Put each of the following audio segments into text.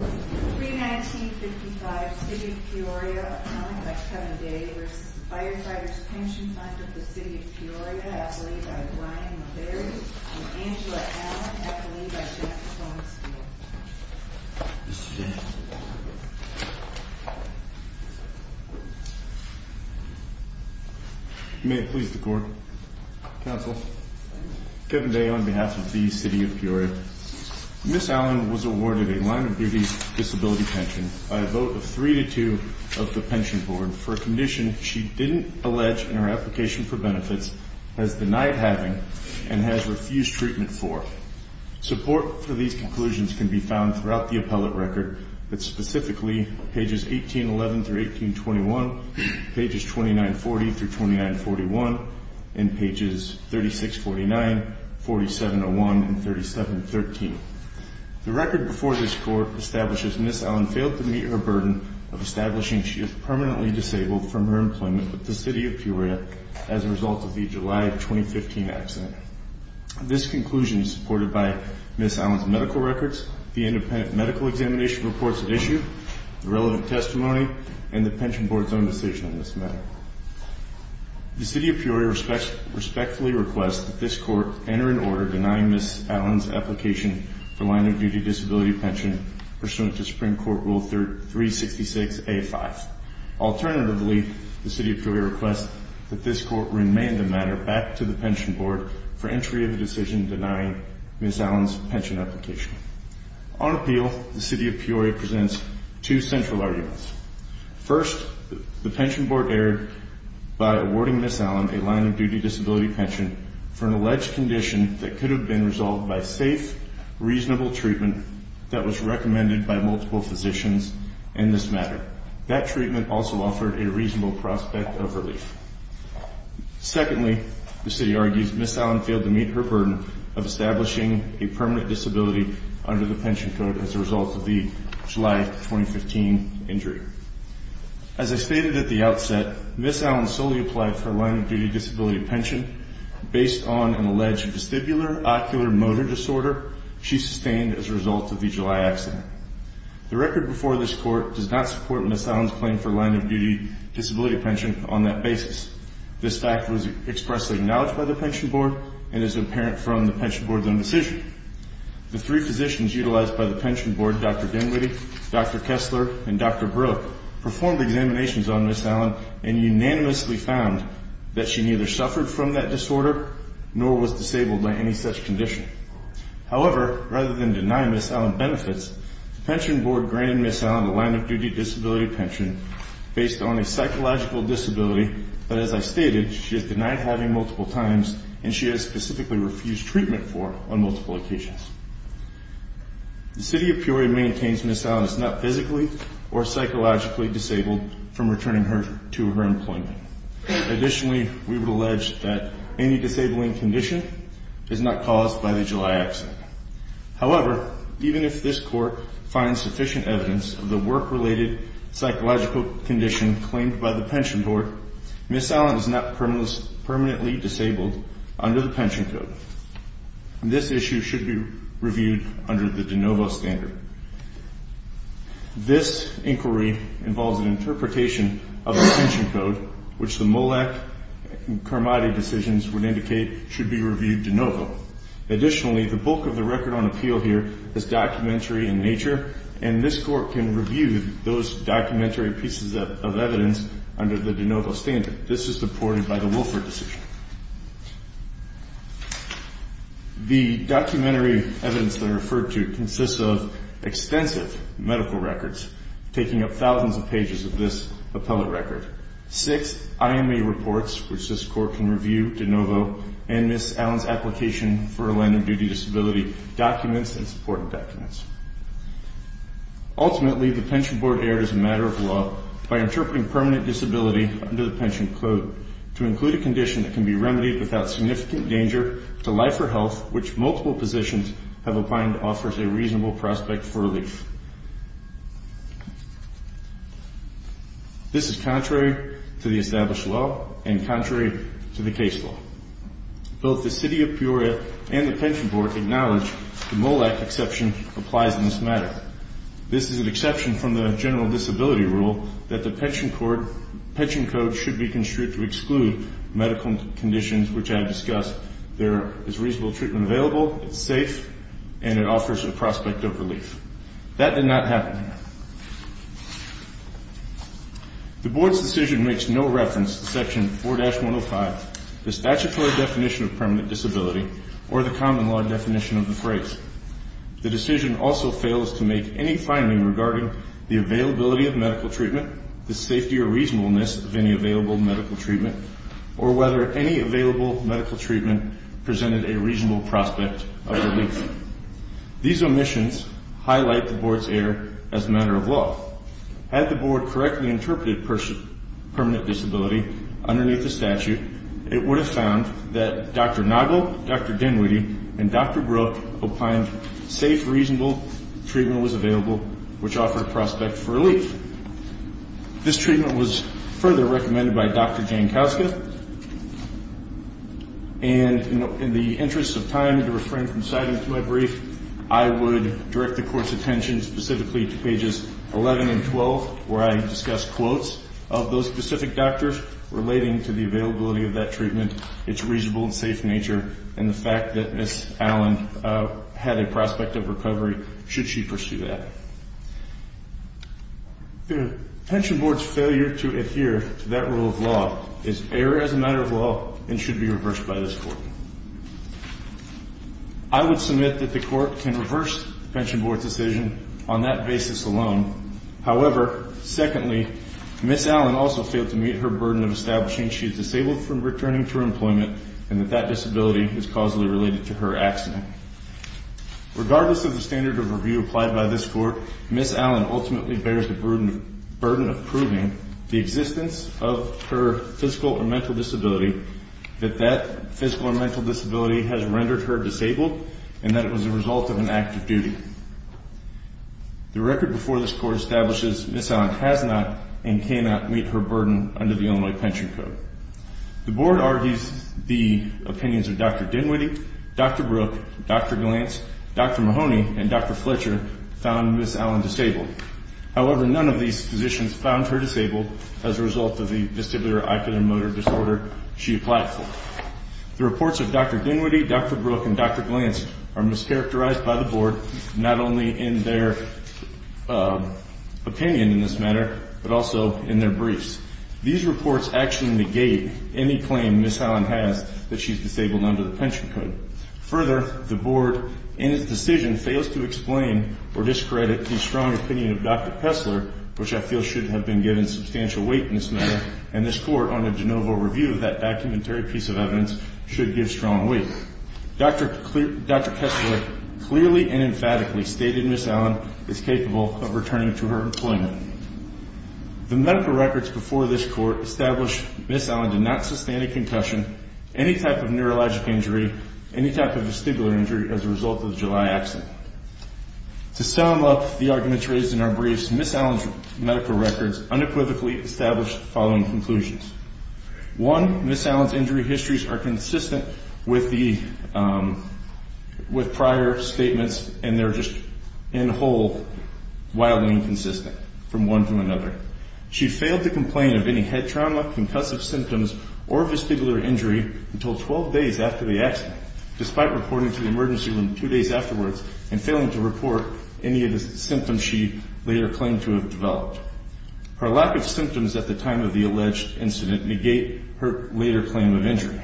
319-55 City of Peoria, accounting by Kevin Day v. The Firefighters' Pension Fund of the City of Peoria, accolade by Brian Mulberry and Angela Allen, accolade by Jack Swansfield. May it please the Court. Counsel. Kevin Day on behalf of the City of Peoria. Ms. Allen was awarded a line of duties disability pension by a vote of 3-2 of the Pension Board for a condition she didn't allege in her application for benefits, has denied having, and has refused treatment for. Support for these conclusions can be found throughout the appellate record, but specifically pages 1811-1821, pages 2940-2941, and pages 3649, 4701, and 3713. The record before this Court establishes Ms. Allen failed to meet her burden of establishing she is permanently disabled from her employment with the City of Peoria as a result of the July 2015 accident. This conclusion is supported by Ms. Allen's medical records, the independent medical examination reports at issue, the relevant testimony, and the Pension Board's own decision on this matter. The City of Peoria respectfully requests that this Court enter into order denying Ms. Allen's application for line of duty disability pension pursuant to Supreme Court Rule 366-A-5. Alternatively, the City of Peoria requests that this Court remain the matter back to the Pension Board for entry of a decision denying Ms. Allen's pension application. On appeal, the City of Peoria presents two central arguments. First, the Pension Board erred by awarding Ms. Allen a line of duty disability pension for an alleged condition that could have been resolved by safe, reasonable treatment that was recommended by multiple physicians in this matter. That treatment also offered a reasonable prospect of relief. Secondly, the City argues Ms. Allen failed to meet her burden of establishing a permanent disability under the pension code as a result of the July 2015 injury. As I stated at the outset, Ms. Allen solely applied for a line of duty disability pension based on an alleged vestibular ocular motor disorder she sustained as a result of the July accident. The record before this Court does not support Ms. Allen's claim for a line of duty disability pension on that basis. This fact was expressly acknowledged by the Pension Board and is apparent from the Pension Board's own decision. The three physicians utilized by the Pension Board, Dr. Dinwiddie, Dr. Kessler, and Dr. Brooke, performed examinations on Ms. Allen and unanimously found that she neither suffered from that disorder nor was disabled by any such condition. However, rather than deny Ms. Allen benefits, the Pension Board granted Ms. Allen a line of duty disability pension based on a psychological disability that, as I stated, she is denied having multiple times and she has specifically refused treatment for on multiple occasions. The City of Peoria maintains Ms. Allen is not physically or psychologically disabled from returning her to her employment. Additionally, we would allege that any disabling condition is not caused by the July accident. However, even if this Court finds sufficient evidence of the work-related psychological condition claimed by the Pension Board, Ms. Allen is not permanently disabled under the Pension Code. This issue should be reviewed under the de novo standard. This inquiry involves an interpretation of the Pension Code, which the Mollack and Carmody decisions would indicate should be reviewed de novo. Additionally, the bulk of the record on appeal here is documentary in nature, and this Court can review those documentary pieces of evidence under the de novo standard. This is supported by the Wilford decision. The documentary evidence that I referred to consists of extensive medical records, taking up thousands of pages of this appellate record, six IMA reports, which this Court can review de novo, and Ms. Allen's application for a line of duty disability documents and supported documents. Ultimately, the Pension Board erred as a matter of law by interpreting permanent disability under the Pension Code to include a condition that can be remedied without significant danger to life or health, which multiple positions have opined offers a reasonable prospect for relief. This is contrary to the established law and contrary to the case law. Both the City of Peoria and the Pension Board acknowledge the Mollack exception applies in this matter. This is an exception from the general disability rule that the Pension Code should be construed to exclude medical conditions, which I have discussed. There is reasonable treatment available, it's safe, and it offers a prospect of relief. That did not happen. The Board's decision makes no reference to Section 4-105, the statutory definition of permanent disability, or the common law definition of the phrase. The decision also fails to make any finding regarding the availability of medical treatment, the safety or reasonableness of any available medical treatment, or whether any available medical treatment presented a reasonable prospect of relief. These omissions highlight the Board's error as a matter of law. Had the Board correctly interpreted permanent disability underneath the statute, it would have found that Dr. Nagel, Dr. Dinwiddie, and Dr. Brook opined safe, reasonable treatment was available, which offered a prospect for relief. This treatment was further recommended by Dr. Jankowski, and in the interest of time to refrain from citing it to my brief, I would direct the Court's attention specifically to pages 11 and 12, where I discuss quotes of those specific doctors relating to the availability of that treatment, its reasonable and safe nature, and the fact that Ms. Allen had a prospect of recovery should she pursue that. The Pension Board's failure to adhere to that rule of law is error as a matter of law and should be reversed by this Court. I would submit that the Court can reverse the Pension Board's decision on that basis alone. However, secondly, Ms. Allen also failed to meet her burden of establishing she is disabled from returning to her employment and that that disability is causally related to her accident. Regardless of the standard of review applied by this Court, Ms. Allen ultimately bears the burden of proving the existence of her physical or mental disability, that that physical or mental disability has rendered her disabled, and that it was a result of an act of duty. The record before this Court establishes Ms. Allen has not and cannot meet her burden under the Illinois Pension Code. The Board argues the opinions of Dr. Dinwiddie, Dr. Brook, Dr. Glantz, Dr. Mahoney, and Dr. Fletcher found Ms. Allen disabled. However, none of these physicians found her disabled as a result of the vestibular oculomotor disorder she applied for. The reports of Dr. Dinwiddie, Dr. Brook, and Dr. Glantz are mischaracterized by the Board not only in their opinion in this matter, but also in their briefs. These reports actually negate any claim Ms. Allen has that she is disabled under the Pension Code. Further, the Board, in its decision, fails to explain or discredit the strong opinion of Dr. Kessler, which I feel should have been given substantial weight in this matter, and this Court, under de novo review of that documentary piece of evidence, should give strong weight. Dr. Kessler clearly and emphatically stated Ms. Allen is capable of returning to her employment. The medical records before this Court establish Ms. Allen did not sustain a concussion, any type of neurologic injury, any type of vestibular injury as a result of the July accident. To sum up the arguments raised in our briefs, Ms. Allen's medical records unequivocally established the following conclusions. One, Ms. Allen's injury histories are consistent with prior statements, and they're just in whole wildly inconsistent from one to another. She failed to complain of any head trauma, concussive symptoms, or vestibular injury until 12 days after the accident, despite reporting to the emergency room two days afterwards and failing to report any of the symptoms she later claimed to have developed. Her lack of symptoms at the time of the alleged incident negate her later claim of injury.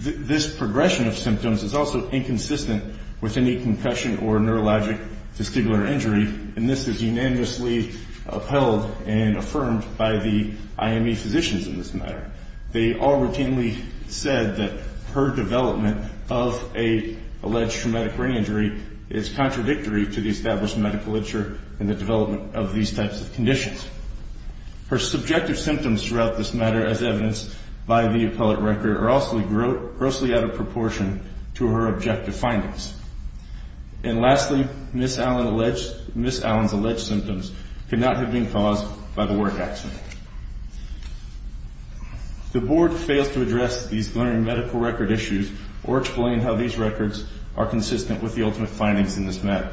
This progression of symptoms is also inconsistent with any concussion or neurologic vestibular injury, and this is unanimously upheld and affirmed by the IME physicians in this matter. They all routinely said that her development of an alleged traumatic brain injury is contradictory to the established medical literature in the development of these types of conditions. Her subjective symptoms throughout this matter, as evidenced by the appellate record, are also grossly out of proportion to her objective findings. And lastly, Ms. Allen's alleged symptoms could not have been caused by the work accident. The Board fails to address these glaring medical record issues or explain how these records are consistent with the ultimate findings in this matter.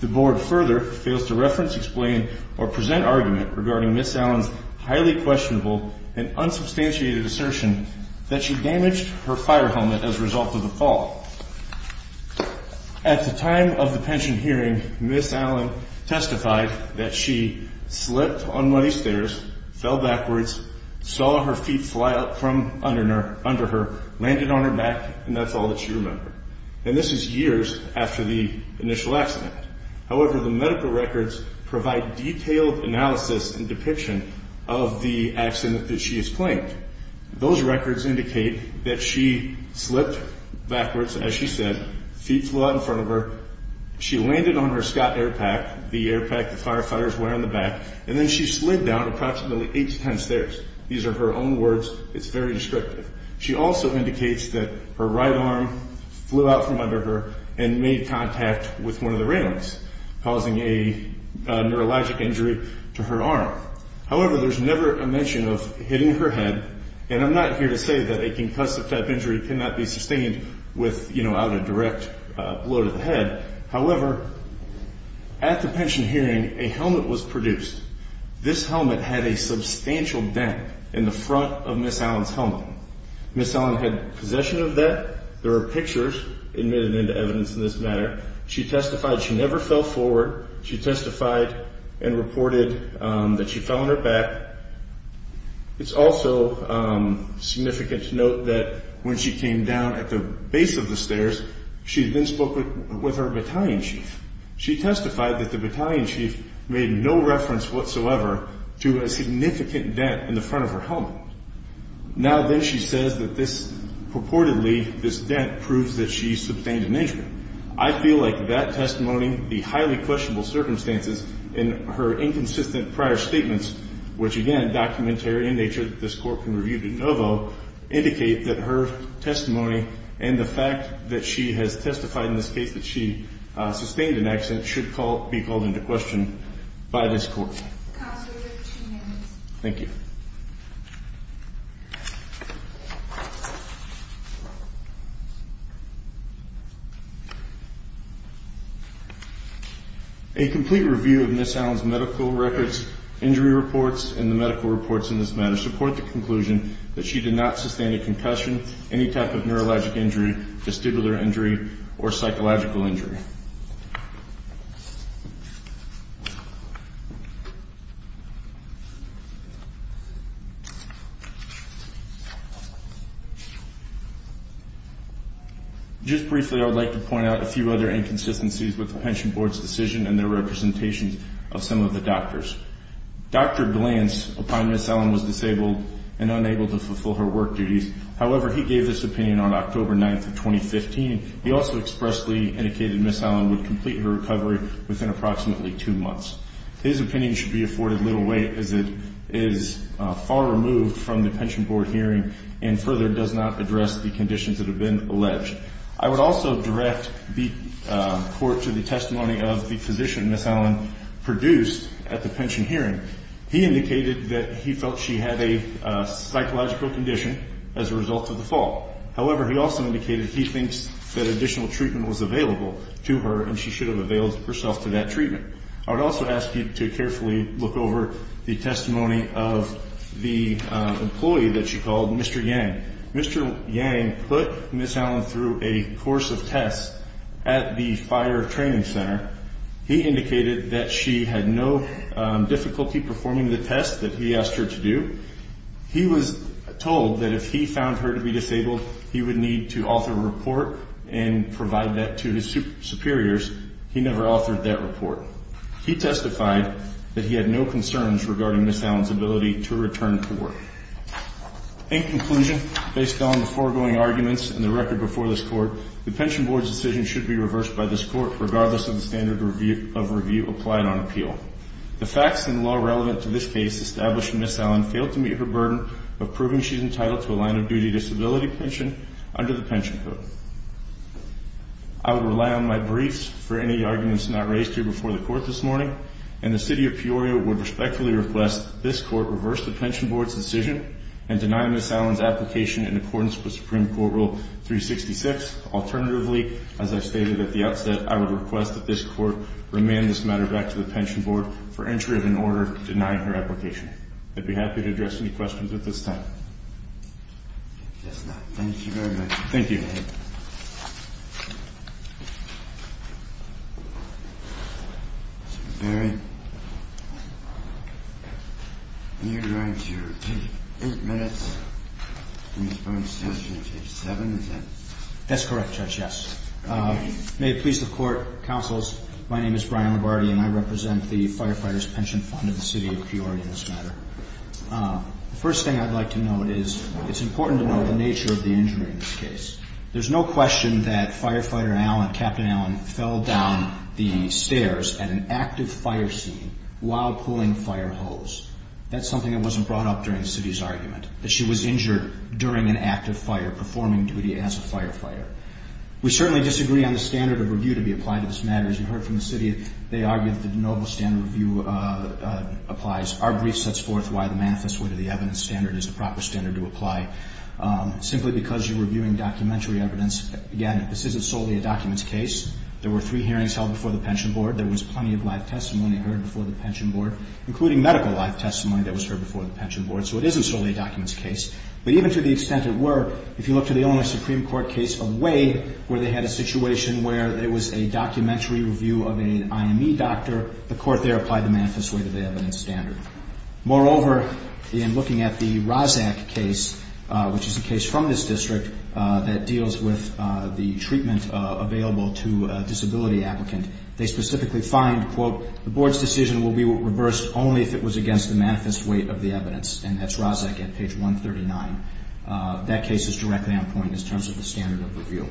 The Board further fails to reference, explain, or present argument regarding Ms. Allen's highly questionable and unsubstantiated assertion that she damaged her fire helmet as a result of the fall. At the time of the pension hearing, Ms. Allen testified that she slipped on one of these stairs, fell backwards, saw her feet fly up from under her, landed on her back, and that's all that she remembered. And this is years after the initial accident. However, the medical records provide detailed analysis and depiction of the accident that she has claimed. Those records indicate that she slipped backwards, as she said, feet flew out in front of her, she landed on her Scott air pack, the air pack the firefighters wear on the back, and then she slid down approximately eight to ten stairs. These are her own words. It's very descriptive. She also indicates that her right arm flew out from under her and made contact with one of the railings, causing a neurologic injury to her arm. However, there's never a mention of hitting her head. And I'm not here to say that a concussive type injury cannot be sustained with, you know, out of direct blow to the head. However, at the pension hearing, a helmet was produced. This helmet had a substantial dent in the front of Ms. Allen's helmet. Ms. Allen had possession of that. There are pictures admitted into evidence in this matter. She testified she never fell forward. She testified and reported that she fell on her back. It's also significant to note that when she came down at the base of the stairs, she then spoke with her battalion chief. She testified that the battalion chief made no reference whatsoever to a significant dent in the front of her helmet. Now then, she says that this purportedly, this dent proves that she sustained an injury. I feel like that testimony, the highly questionable circumstances, and her inconsistent prior statements, which again, documentary in nature that this court can review de novo, indicate that her testimony and the fact that she has testified in this case that she sustained an accident, should be called into question by this court. Counsel, your two minutes. Thank you. A complete review of Ms. Allen's medical records, injury reports, and the medical reports in this matter support the conclusion that she did not sustain a concussion, any type of neurologic injury, vestibular injury, or psychological injury. Thank you. Just briefly, I would like to point out a few other inconsistencies with the pension board's decision and their representations of some of the doctors. Dr. Glantz, upon Ms. Allen, was disabled and unable to fulfill her work duties. However, he gave his opinion on October 9th of 2015. He also expressly indicated Ms. Allen would complete her recovery within approximately two months. His opinion should be afforded little weight as it is far removed from the pension board hearing and further does not address the conditions that have been alleged. I would also direct the court to the testimony of the physician Ms. Allen produced at the pension hearing. He indicated that he felt she had a psychological condition as a result of the fall. However, he also indicated he thinks that additional treatment was available to her and she should have availed herself to that treatment. I would also ask you to carefully look over the testimony of the employee that she called Mr. Yang. Mr. Yang put Ms. Allen through a course of tests at the fire training center. He indicated that she had no difficulty performing the tests that he asked her to do. He was told that if he found her to be disabled, he would need to author a report and provide that to his superiors. He never authored that report. He testified that he had no concerns regarding Ms. Allen's ability to return to work. In conclusion, based on the foregoing arguments and the record before this court, the pension board's decision should be reversed by this court regardless of the standard of review applied on appeal. The facts and law relevant to this case establishing Ms. Allen failed to meet her burden of proving she's entitled to a line-of-duty disability pension under the pension code. I would rely on my briefs for any arguments not raised here before the court this morning, and the City of Peoria would respectfully request this court reverse the pension board's decision and deny Ms. Allen's application in accordance with Supreme Court Rule 366. Alternatively, as I stated at the outset, I would request that this court remand this matter back to the pension board for entry of an order denying her application. I'd be happy to address any questions at this time. If there's none, thank you very much. Thank you. Barry, you're going to take eight minutes. Ms. Burns is going to take seven minutes. That's correct, Judge, yes. May it please the court, counsels, my name is Brian Labardi, and I represent the Firefighters' Pension Fund of the City of Peoria in this matter. The first thing I'd like to note is it's important to know the nature of the injury in this case. There's no question that Firefighter Allen, Captain Allen, fell down the stairs at an active fire scene while pulling fire hose. That's something that wasn't brought up during the City's argument, that she was injured during an active fire performing duty as a firefighter. We certainly disagree on the standard of review to be applied to this matter. As you heard from the City, they argued that the noble standard of review applies. Our brief sets forth why the manifest wit of the evidence standard is the proper standard to apply. Simply because you're reviewing documentary evidence, again, this isn't solely a documents case. There were three hearings held before the pension board. There was plenty of live testimony heard before the pension board, including medical live testimony that was heard before the pension board. So it isn't solely a documents case. But even to the extent it were, if you look to the Illinois Supreme Court case of Wade, where they had a situation where it was a documentary review of an IME doctor, the court there applied the manifest wit of the evidence standard. Moreover, in looking at the Rozak case, which is a case from this district that deals with the treatment available to a disability applicant, they specifically find, quote, the board's decision will be reversed only if it was against the manifest wit of the evidence. And that's Rozak at page 139. That case is directly on point in terms of the standard of review.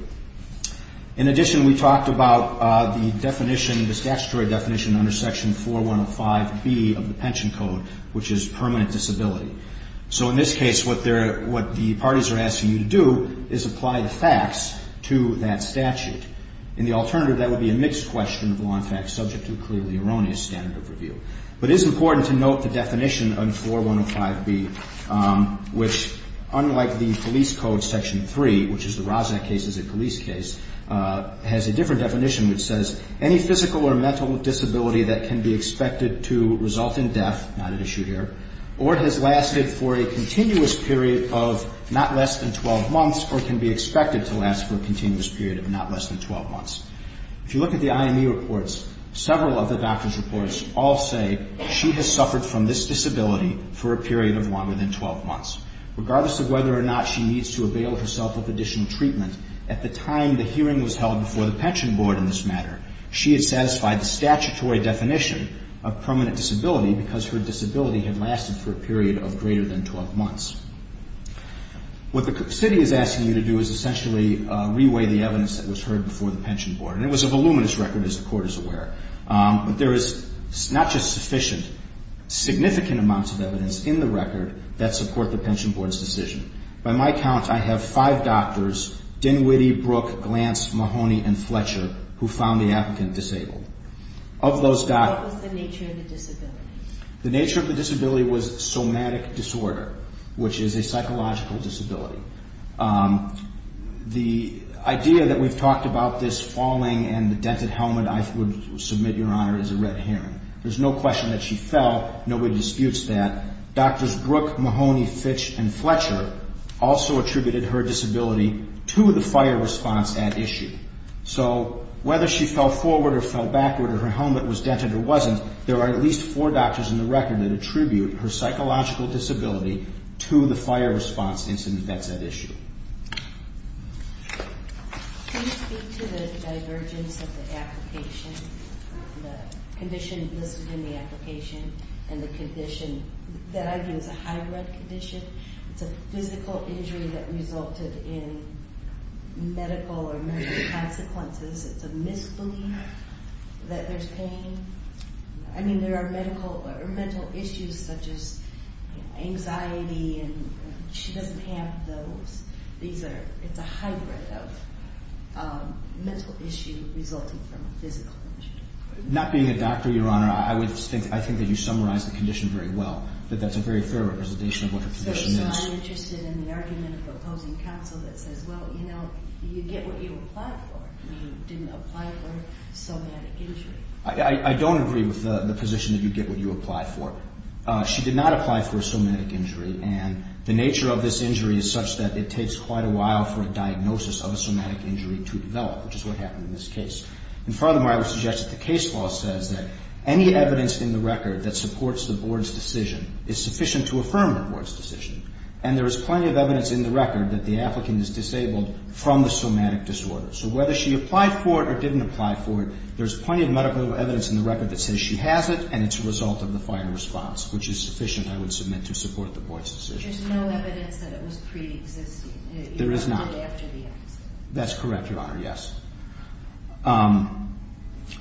In addition, we talked about the definition, the statutory definition, under section 4105B of the pension code, which is permanent disability. So in this case, what the parties are asking you to do is apply the facts to that statute. In the alternative, that would be a mixed question of law and facts, subject to clearly erroneous standard of review. But it is important to note the definition under 4105B, which, unlike the police code section 3, which is the Rozak case is a police case, has a different definition which says, any physical or mental disability that can be expected to result in death, not at issue here, or has lasted for a continuous period of not less than 12 months or can be expected to last for a continuous period of not less than 12 months. If you look at the IME reports, several of the doctor's reports all say she has suffered from this disability for a period of longer than 12 months. Regardless of whether or not she needs to avail herself of additional treatment, at the time the hearing was held before the pension board in this matter, she had satisfied the statutory definition of permanent disability because her disability had lasted for a period of greater than 12 months. What the city is asking you to do is essentially reweigh the evidence that was heard before the pension board. And it was a voluminous record, as the Court is aware. But there is not just sufficient, significant amounts of evidence in the record that support the pension board's decision. By my count, I have five doctors, Dinwiddie, Brook, Glantz, Mahoney, and Fletcher, who found the applicant disabled. Of those doctors... What was the nature of the disability? The nature of the disability was somatic disorder, which is a psychological disability. The idea that we've talked about this falling and the dented helmet, I would submit, Your Honor, is a red herring. There's no question that she fell. Nobody disputes that. Doctors Brook, Mahoney, Fitch, and Fletcher also attributed her disability to the fire response at issue. So whether she fell forward or fell backward, or her helmet was dented or wasn't, there are at least four doctors in the record that attribute her psychological disability to the fire response incident that's at issue. Can you speak to the divergence of the application, the condition listed in the application, and the condition that I view as a hybrid condition? It's a physical injury that resulted in medical or mental consequences. It's a misbelief that there's pain. I mean, there are mental issues such as anxiety, and she doesn't have those. It's a hybrid of mental issue resulting from physical injury. Not being a doctor, Your Honor, I think that you summarize the condition very well, that that's a very fair representation of what her condition is. I'm interested in the argument of the opposing counsel that says, well, you know, you get what you applied for, and you didn't apply for somatic injury. I don't agree with the position that you get what you apply for. She did not apply for a somatic injury, and the nature of this injury is such that it takes quite a while for a diagnosis of a somatic injury to develop, which is what happened in this case. And furthermore, I would suggest that the case law says that any evidence in the record that supports the Board's decision is sufficient to affirm the Board's decision, and there is plenty of evidence in the record that the applicant is disabled from the somatic disorder. So whether she applied for it or didn't apply for it, there's plenty of medical evidence in the record that says she has it, and it's a result of the fire response, which is sufficient, I would submit, to support the Board's decision. There's no evidence that it was preexisting. There is not. Even after the accident. That's correct, Your Honor, yes.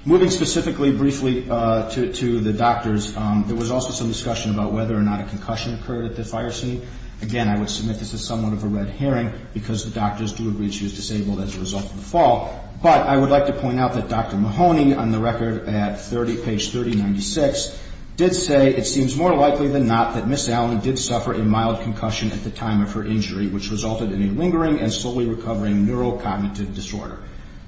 Moving specifically briefly to the doctors, there was also some discussion about whether or not a concussion occurred at the fire scene. Again, I would submit this is somewhat of a red herring, because the doctors do agree she was disabled as a result of the fall. But I would like to point out that Dr. Mahoney, on the record at page 3096, did say it seems more likely than not that Ms. Allen did suffer a mild concussion at the time of her injury, which resulted in a lingering and slowly recovering neurocognitive disorder.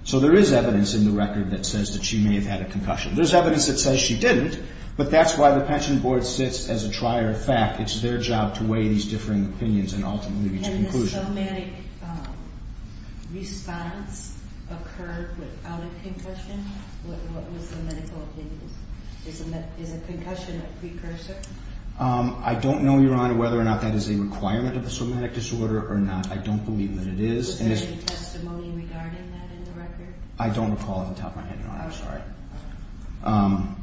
So there is evidence in the record that says that she may have had a concussion. There's evidence that says she didn't, but that's why the Pension Board sits as a trier of fact. Can the somatic response occur without a concussion? What was the medical evidence? Is a concussion a precursor? I don't know, Your Honor, whether or not that is a requirement of a somatic disorder or not. I don't believe that it is. Was there any testimony regarding that in the record? I don't recall off the top of my head, Your Honor. I'm sorry.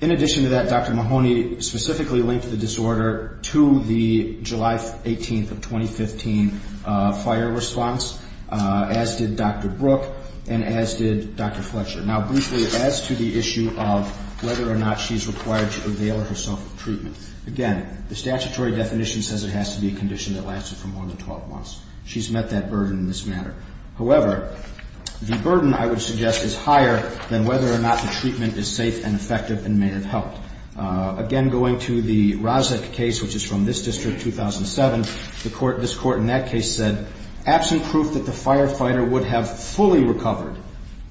In addition to that, Dr. Mahoney specifically linked the disorder to the July 18th of 2015 fire response, as did Dr. Brook and as did Dr. Fletcher. Now, briefly, as to the issue of whether or not she's required to avail herself of treatment, again, the statutory definition says it has to be a condition that lasted from 1 to 12 months. She's met that burden in this matter. However, the burden, I would suggest, is higher than whether or not the treatment is safe and effective and may have helped. Again, going to the Rozic case, which is from this district, 2007, this Court in that case said, absent proof that the firefighter would have fully recovered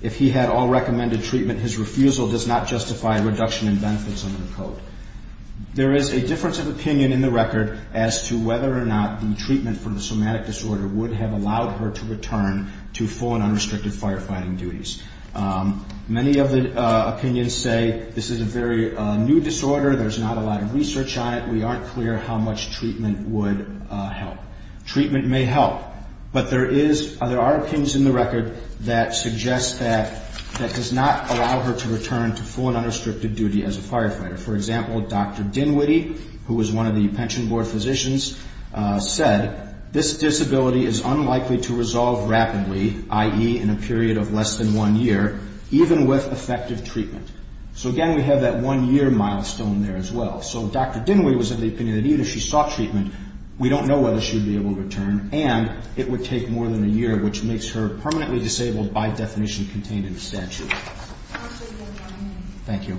if he had all recommended treatment, his refusal does not justify reduction in benefits under the code. There is a difference of opinion in the record as to whether or not the treatment for the somatic disorder would have allowed her to return to full and unrestricted firefighting duties. Many of the opinions say this is a very new disorder. There's not a lot of research on it. We aren't clear how much treatment would help. Treatment may help, but there are opinions in the record that suggest that that does not allow her to return to full and unrestricted duty as a firefighter. For example, Dr. Dinwiddie, who was one of the pension board physicians, said, this disability is unlikely to resolve rapidly, i.e., in a period of less than one year, even with effective treatment. So again, we have that one-year milestone there as well. So Dr. Dinwiddie was of the opinion that even if she sought treatment, we don't know whether she would be able to return, and it would take more than a year, which makes her permanently disabled by definition contained in the statute. Thank you.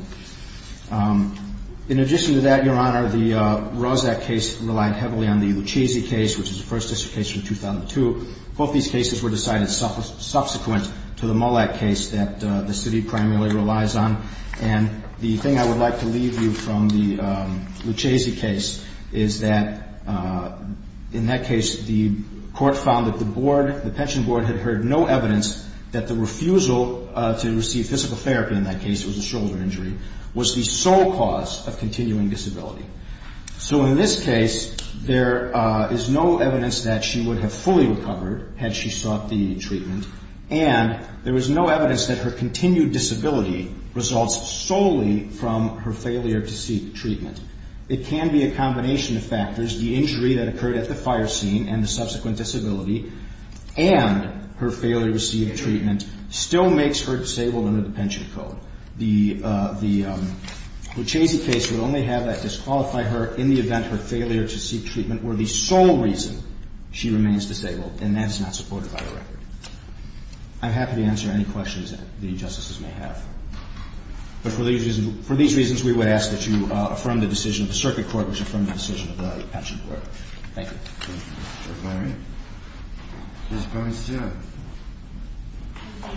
In addition to that, Your Honor, the Rozak case relied heavily on the Lucchese case, which is a First District case from 2002. Both these cases were decided subsequent to the Mullack case that the city primarily relies on. And the thing I would like to leave you from the Lucchese case is that in that case, the court found that the board, the pension board, had heard no evidence that the refusal to receive physical therapy, in that case it was a shoulder injury, was the sole cause of continuing disability. So in this case, there is no evidence that she would have fully recovered had she sought the treatment, and there is no evidence that her continued disability results solely from her failure to seek treatment. It can be a combination of factors. The injury that occurred at the fire scene and the subsequent disability and her failure to seek treatment still makes her disabled under the pension code. The Lucchese case would only have that disqualify her in the event her failure to seek treatment were the sole reason she remains disabled, and that is not supported by the record. I'm happy to answer any questions that the Justices may have. But for these reasons, we would ask that you affirm the decision of the circuit court, which affirmed the decision of the pension board. Thank you. Thank you, Mr. O'Leary. Ms. Bernstein.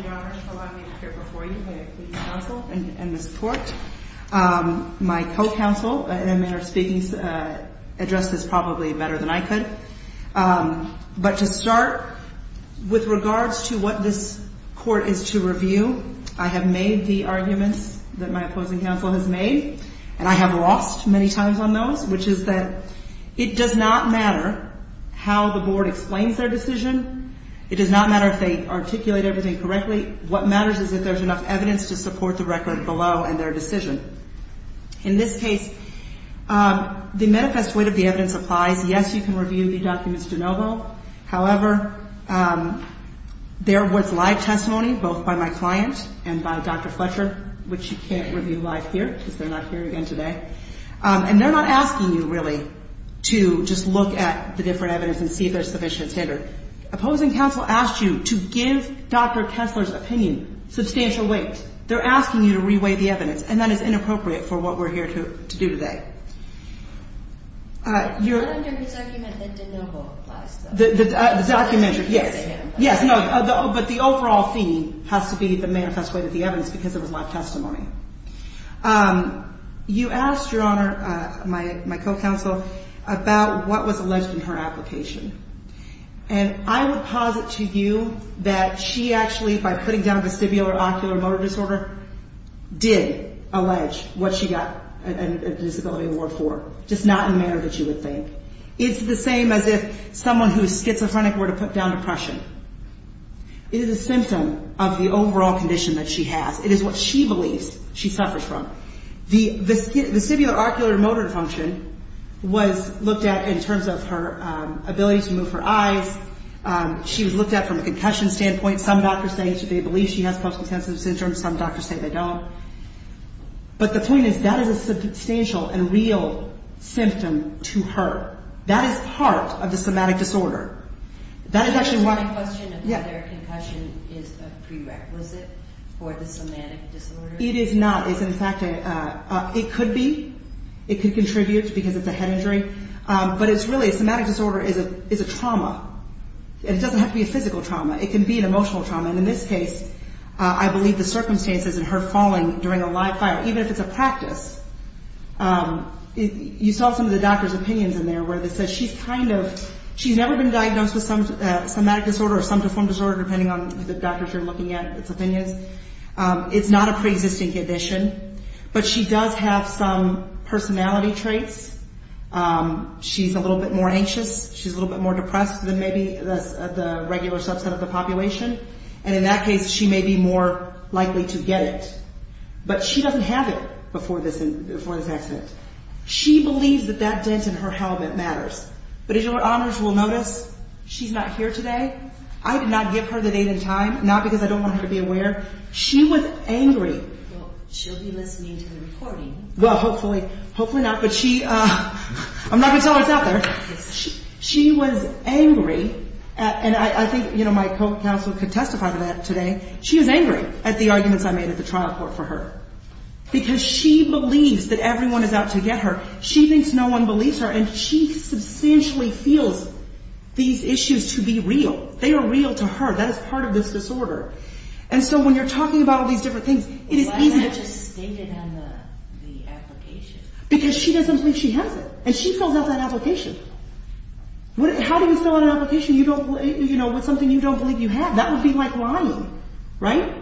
Your Honor, allow me to appear before you, please, counsel and Ms. Port. My co-counsel, in a manner of speaking, addressed this probably better than I could. But to start, with regards to what this court is to review, I have made the arguments that my opposing counsel has made, and I have lost many times on those, which is that it does not matter how the board explains their decision. It does not matter if they articulate everything correctly. What matters is if there's enough evidence to support the record below and their decision. In this case, the manifest weight of the evidence applies. Yes, you can review the documents de novo. However, there was live testimony, both by my client and by Dr. Fletcher, which you can't review live here because they're not here again today. And they're not asking you, really, to just look at the different evidence and see if there's sufficient standard. Opposing counsel asked you to give Dr. Kessler's opinion substantial weight. They're asking you to re-weight the evidence, and that is inappropriate for what we're here to do today. I wonder whose argument the de novo applies to. The documentary, yes. Yes, but the overall theme has to be the manifest weight of the evidence because it was live testimony. You asked, Your Honor, my co-counsel, about what was alleged in her application. And I would posit to you that she actually, by putting down vestibular ocular motor disorder, did allege what she got a disability award for, just not in the manner that you would think. It's the same as if someone who is schizophrenic were to put down depression. It is a symptom of the overall condition that she has. It is what she believes she suffers from. The vestibular ocular motor function was looked at in terms of her ability to move her eyes. She was looked at from a concussion standpoint. Some doctors say they believe she has post-consensual syndrome. Some doctors say they don't. But the point is that is a substantial and real symptom to her. That is part of the somatic disorder. That is actually why... My question is whether concussion is a prerequisite for the somatic disorder. It is not. It's in fact a... It could be. It could contribute because it's a head injury. But it's really... Somatic disorder is a trauma. It doesn't have to be a physical trauma. It can be an emotional trauma. And in this case, I believe the circumstances in her falling during a live fire, even if it's a practice, you saw some of the doctor's opinions in there where they said she's kind of... She's never been diagnosed with somatic disorder or somatoform disorder, depending on the doctors you're looking at, its opinions. It's not a preexisting condition. But she does have some personality traits. She's a little bit more anxious. She's a little bit more depressed than maybe the regular subset of the population. And in that case, she may be more likely to get it. But she doesn't have it before this accident. She believes that that dent in her helmet matters. But as your honors will notice, she's not here today. I did not give her the date and time, not because I don't want her to be aware. She was angry. Well, she'll be listening to the recording. Well, hopefully not. But she... I'm not going to tell her it's out there. She was angry. And I think, you know, my co-counsel could testify to that today. She was angry at the arguments I made at the trial court for her. Because she believes that everyone is out to get her. She thinks no one believes her. And she substantially feels these issues to be real. They are real to her. That is part of this disorder. And so when you're talking about all these different things, it is easy to... Because she doesn't think she has it. And she fills out that application. How do you fill out an application, you know, with something you don't believe you have? That would be like lying. Right?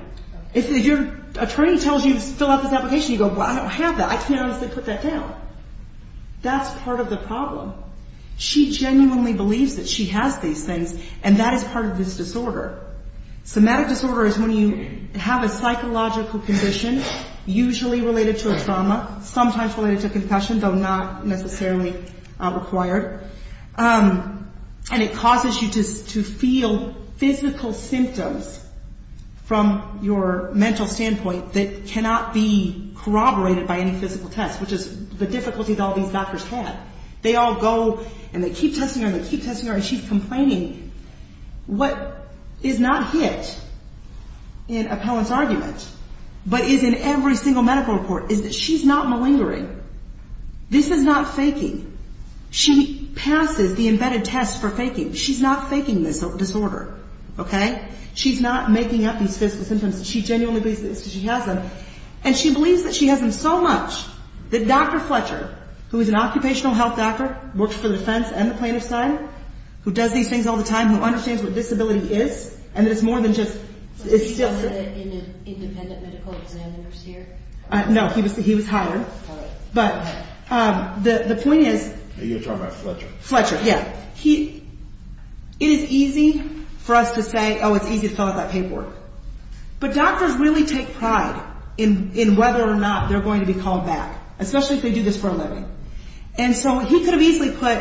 If your attorney tells you to fill out this application, you go, Well, I don't have that. I can't honestly put that down. That's part of the problem. She genuinely believes that she has these things. And that is part of this disorder. Somatic disorder is when you have a psychological condition, usually related to a trauma, sometimes related to a concussion, though not necessarily required. And it causes you to feel physical symptoms from your mental standpoint that cannot be corroborated by any physical test, which is the difficulty that all these doctors have. They all go and they keep testing her and they keep testing her and she's complaining. What is not hit in appellant's argument, but is in every single medical report, is that she's not malingering. This is not faking. She passes the embedded test for faking. She's not faking this disorder. Okay? She's not making up these physical symptoms. She genuinely believes that she has them. And she believes that she has them so much that Dr. Fletcher, who is an occupational health doctor, works for the defense and the plaintiff's side, who does these things all the time, who understands what disability is, and that it's more than just... Is he one of the independent medical examiners here? No, he was hired. But the point is... Are you talking about Fletcher? Fletcher, yeah. It is easy for us to say, oh, it's easy to fill out that paperwork. But doctors really take pride in whether or not they're going to be called back, especially if they do this for a living. And so he could have easily put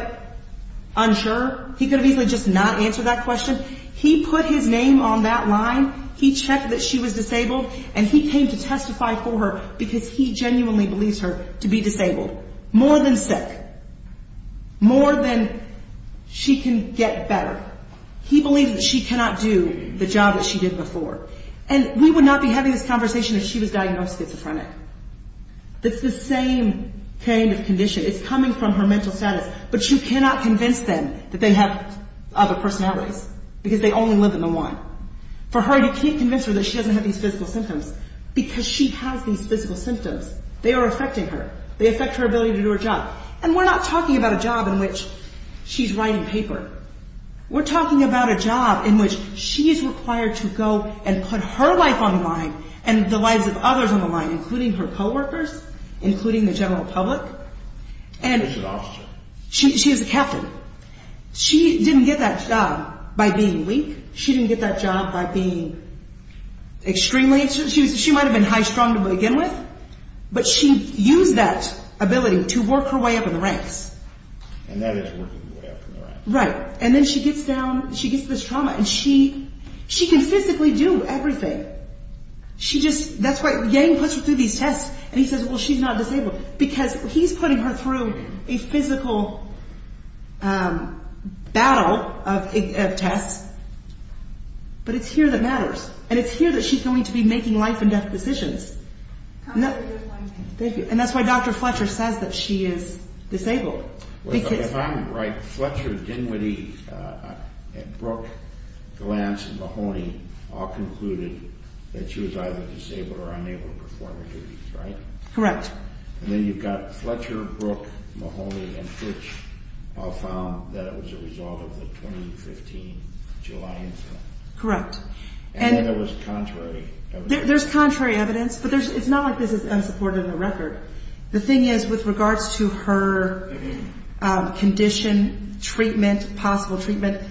unsure. He could have easily just not answered that question. He put his name on that line. He checked that she was disabled. And he came to testify for her because he genuinely believes her to be disabled. More than sick. More than she can get better. He believes that she cannot do the job that she did before. And we would not be having this conversation if she was diagnosed schizophrenic. It's the same kind of condition. It's coming from her mental status. But you cannot convince them that they have other personalities because they only live in the one. For her, you can't convince her that she doesn't have these physical symptoms because she has these physical symptoms. They are affecting her. They affect her ability to do her job. And we're not talking about a job in which she's writing paper. We're talking about a job in which she is required to go and put her life on the line and the lives of others on the line, including her co-workers, including the general public. She was an officer. She was a captain. She didn't get that job by being weak. She didn't get that job by being extremely... She might have been high-strung to begin with, but she used that ability to work her way up in the ranks. And that is working your way up in the ranks. Right. And then she gets down... She gets this trauma, and she... She can physically do everything. She just... That's why... Yang puts her through these tests, and he says, well, she's not disabled because he's putting her through a physical battle of tests. But it's here that matters. And it's here that she's going to be making life-and-death decisions. And that's why Dr. Fletcher says that she is disabled. Well, if I'm right, Fletcher, Dinwiddie, Brooke, Glantz, Mahoney all concluded that she was either disabled or unable to perform her duties, right? Correct. And then you've got Fletcher, Brooke, Mahoney, and Fitch all found that it was a result of the 2015 July incident. Correct. And then there was contrary evidence. There's contrary evidence, but it's not like this is unsupported in the record. The thing is, with regards to her condition, treatment, possible treatment,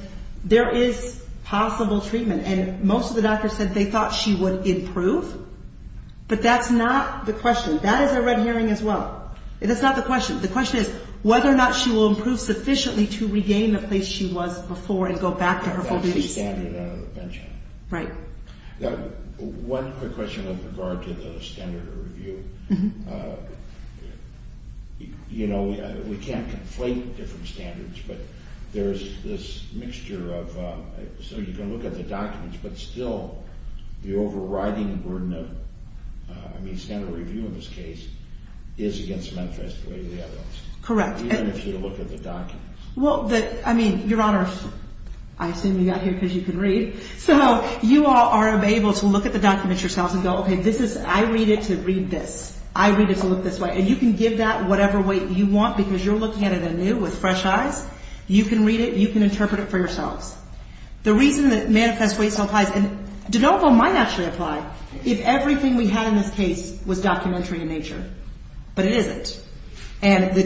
there is possible treatment. And most of the doctors said they thought she would improve, but that's not the question. That is a red herring as well. That's not the question. The question is whether or not she will improve sufficiently to regain the place she was before and go back to her full duties. Right. One quick question with regard to the standard of review. You know, we can't conflate different standards, but there's this mixture of so you can look at the documents, but still the overriding burden of, I mean, standard of review in this case is against the manifesto. Correct. Well, I mean, Your Honor, I assume you got here because you can read. So you are able to look at the documents yourselves and go, I read it to read this. I read it to look this way. And you can give that whatever way you want because you're looking at it anew with fresh eyes. You can read it. You can interpret it for yourselves. The reason that manifesto applies, and de novo might actually apply, if everything we had in this case was documentary in nature. But it isn't. And the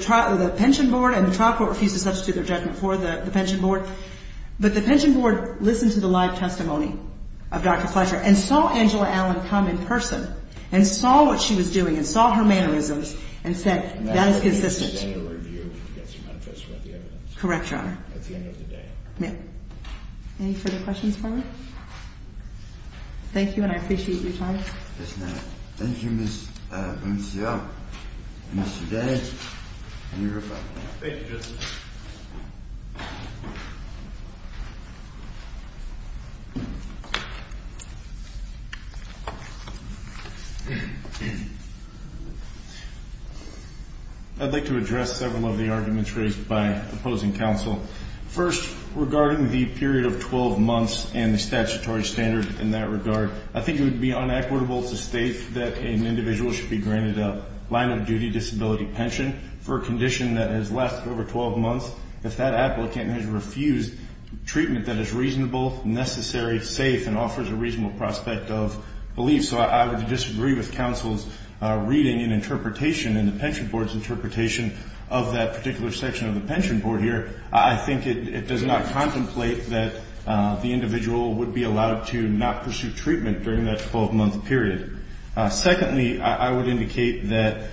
trial court refused to substitute their judgment for the pension board. But the pension board listened to the live testimony of Dr. Fletcher and saw Angela Allen come in person and saw what she was doing and saw her mannerisms and said, that is consistent. Correct, Your Honor. Any further questions for me? Thank you, and I appreciate your time. Yes, ma'am. Thank you, Ms. Boncillo. Mr. Day, you're up. Thank you, Justice. I'd like to address several of the arguments raised by opposing counsel. First, regarding the period of 12 months and the statutory standard in that regard, I think it would be inequitable to state that an individual should be granted a line-of-duty disability pension for a condition that has lasted over 12 months if that applicant has refused treatment that is reasonable, necessary, safe, and offers a reasonable prospect of relief. So I would disagree with counsel's reading and interpretation and the pension board's interpretation of that particular section of the pension board here. I think it does not contemplate that the individual would be allowed to not pursue treatment during that 12-month period. Secondly, I would indicate that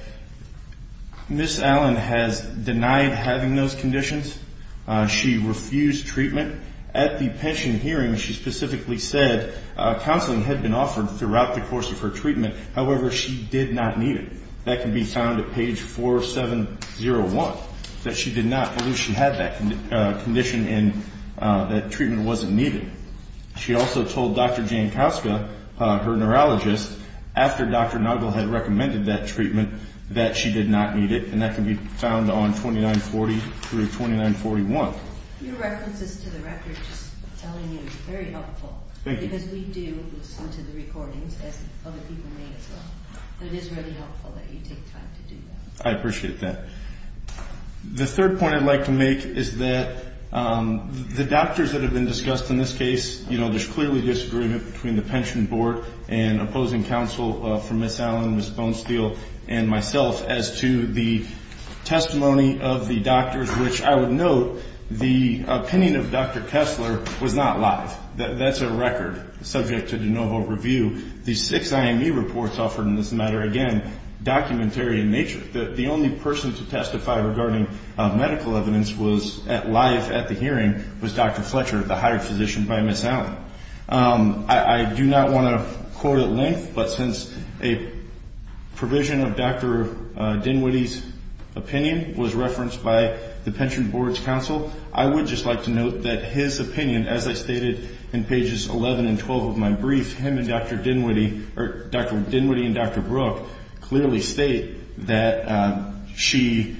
Ms. Allen has denied having those conditions. She refused treatment. At the pension hearing, she specifically said counseling had been offered throughout the course of her treatment. However, she did not need it. That can be found at page 4701, that she did not believe she had that condition and that treatment wasn't needed. She also told Dr. Jan Koska, her neurologist, after Dr. Nagel had recommended that treatment, that she did not need it, and that can be found on 2940 through 2941. Your references to the record just telling you is very helpful because we do listen to the recordings as other people may as well. It is really helpful that you take time to do that. I appreciate that. The third point I'd like to make is that the doctors that have been discussed in this case, there's clearly disagreement between the pension board and opposing counsel for Ms. Allen, Ms. Bonesteel, and myself as to the testimony of the doctors, which I would note the opinion of Dr. Kessler was not live. That's a record subject to de novo review. The six IME reports offered in this matter, again, documentary in nature. The only person to comment live at the hearing was Dr. Fletcher, the hired physician by Ms. Allen. I do not want to quote at length, but since a provision of Dr. Dinwiddie's opinion was referenced by the pension board's counsel, I would just like to note that his opinion, as I stated in pages 11 and 12 of my brief, him and Dr. Dinwiddie and Dr. Brooke clearly state that she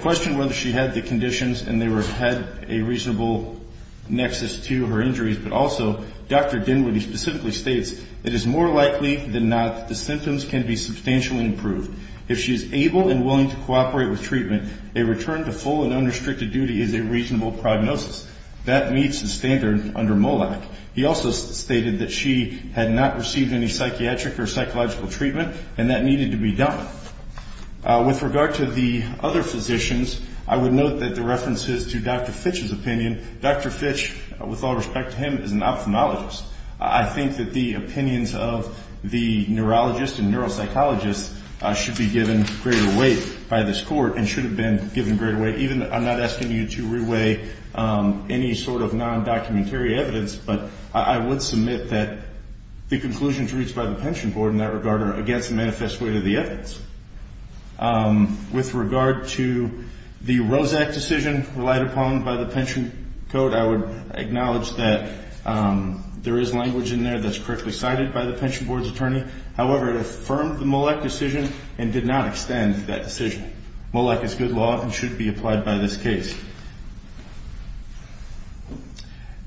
questioned whether she had the conditions and had a reasonable nexus to her injuries, but also Dr. Dinwiddie specifically states it is more likely than not that the symptoms can be substantially improved. If she is able and willing to cooperate with treatment, a return to full and unrestricted duty is a reasonable prognosis. That meets the standard under MOLAC. He also stated that she had not received any psychiatric or psychological treatment, and that needed to be done. With regard to the other physicians, I would note that the references to Dr. Fitch's opinion, Dr. Fitch, with all respect to him, is an ophthalmologist. I think that the opinions of the neurologist and neuropsychologist should be given greater weight by this court, and should have been given greater weight. I'm not asking you to re-weigh any sort of non-documentary evidence, but I would submit that the conclusions reached by the pension board in that regard are against the manifest weight of the evidence. With regard to the ROSAC decision relied upon by the pension code, I would acknowledge that there is language in there that is correctly cited by the pension board's attorney. However, it affirmed the MOLAC decision and did not extend that decision. MOLAC is good law and should be applied by this case.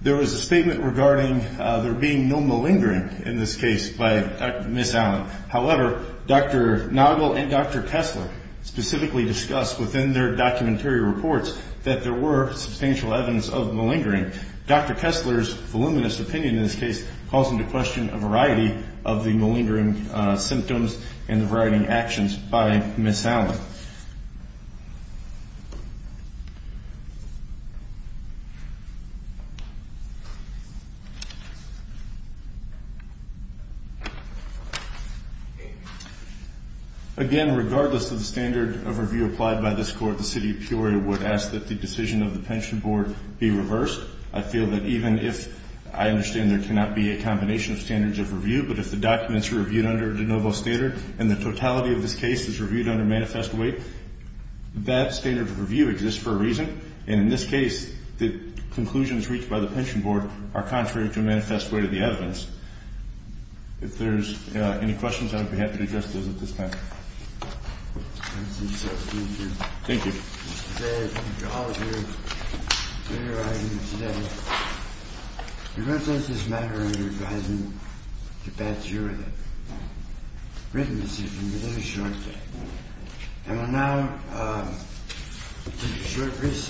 There was a statement regarding there being no malingering in this case by Ms. Allen. However, Dr. Noggle and Dr. Kessler specifically discussed within their documentary reports that there were substantial evidence of malingering. Dr. Kessler's voluminous opinion in this case calls into question a variety of the malingering symptoms and the variety of actions by Ms. Allen. Again, regardless of the standard of review applied by this court, the City of Peoria would ask that the decision of the pension board be reversed. I feel that even if I understand there cannot be a combination of standards of review, but if the documents are reviewed under de novo standard and the totality of this case is reviewed under manifest weight, that standard of review exists for a reason. And in this case, the conclusions reached by the pension board are contrary to the manifest weight of the evidence. If there's any questions, I would be happy to address those at this time.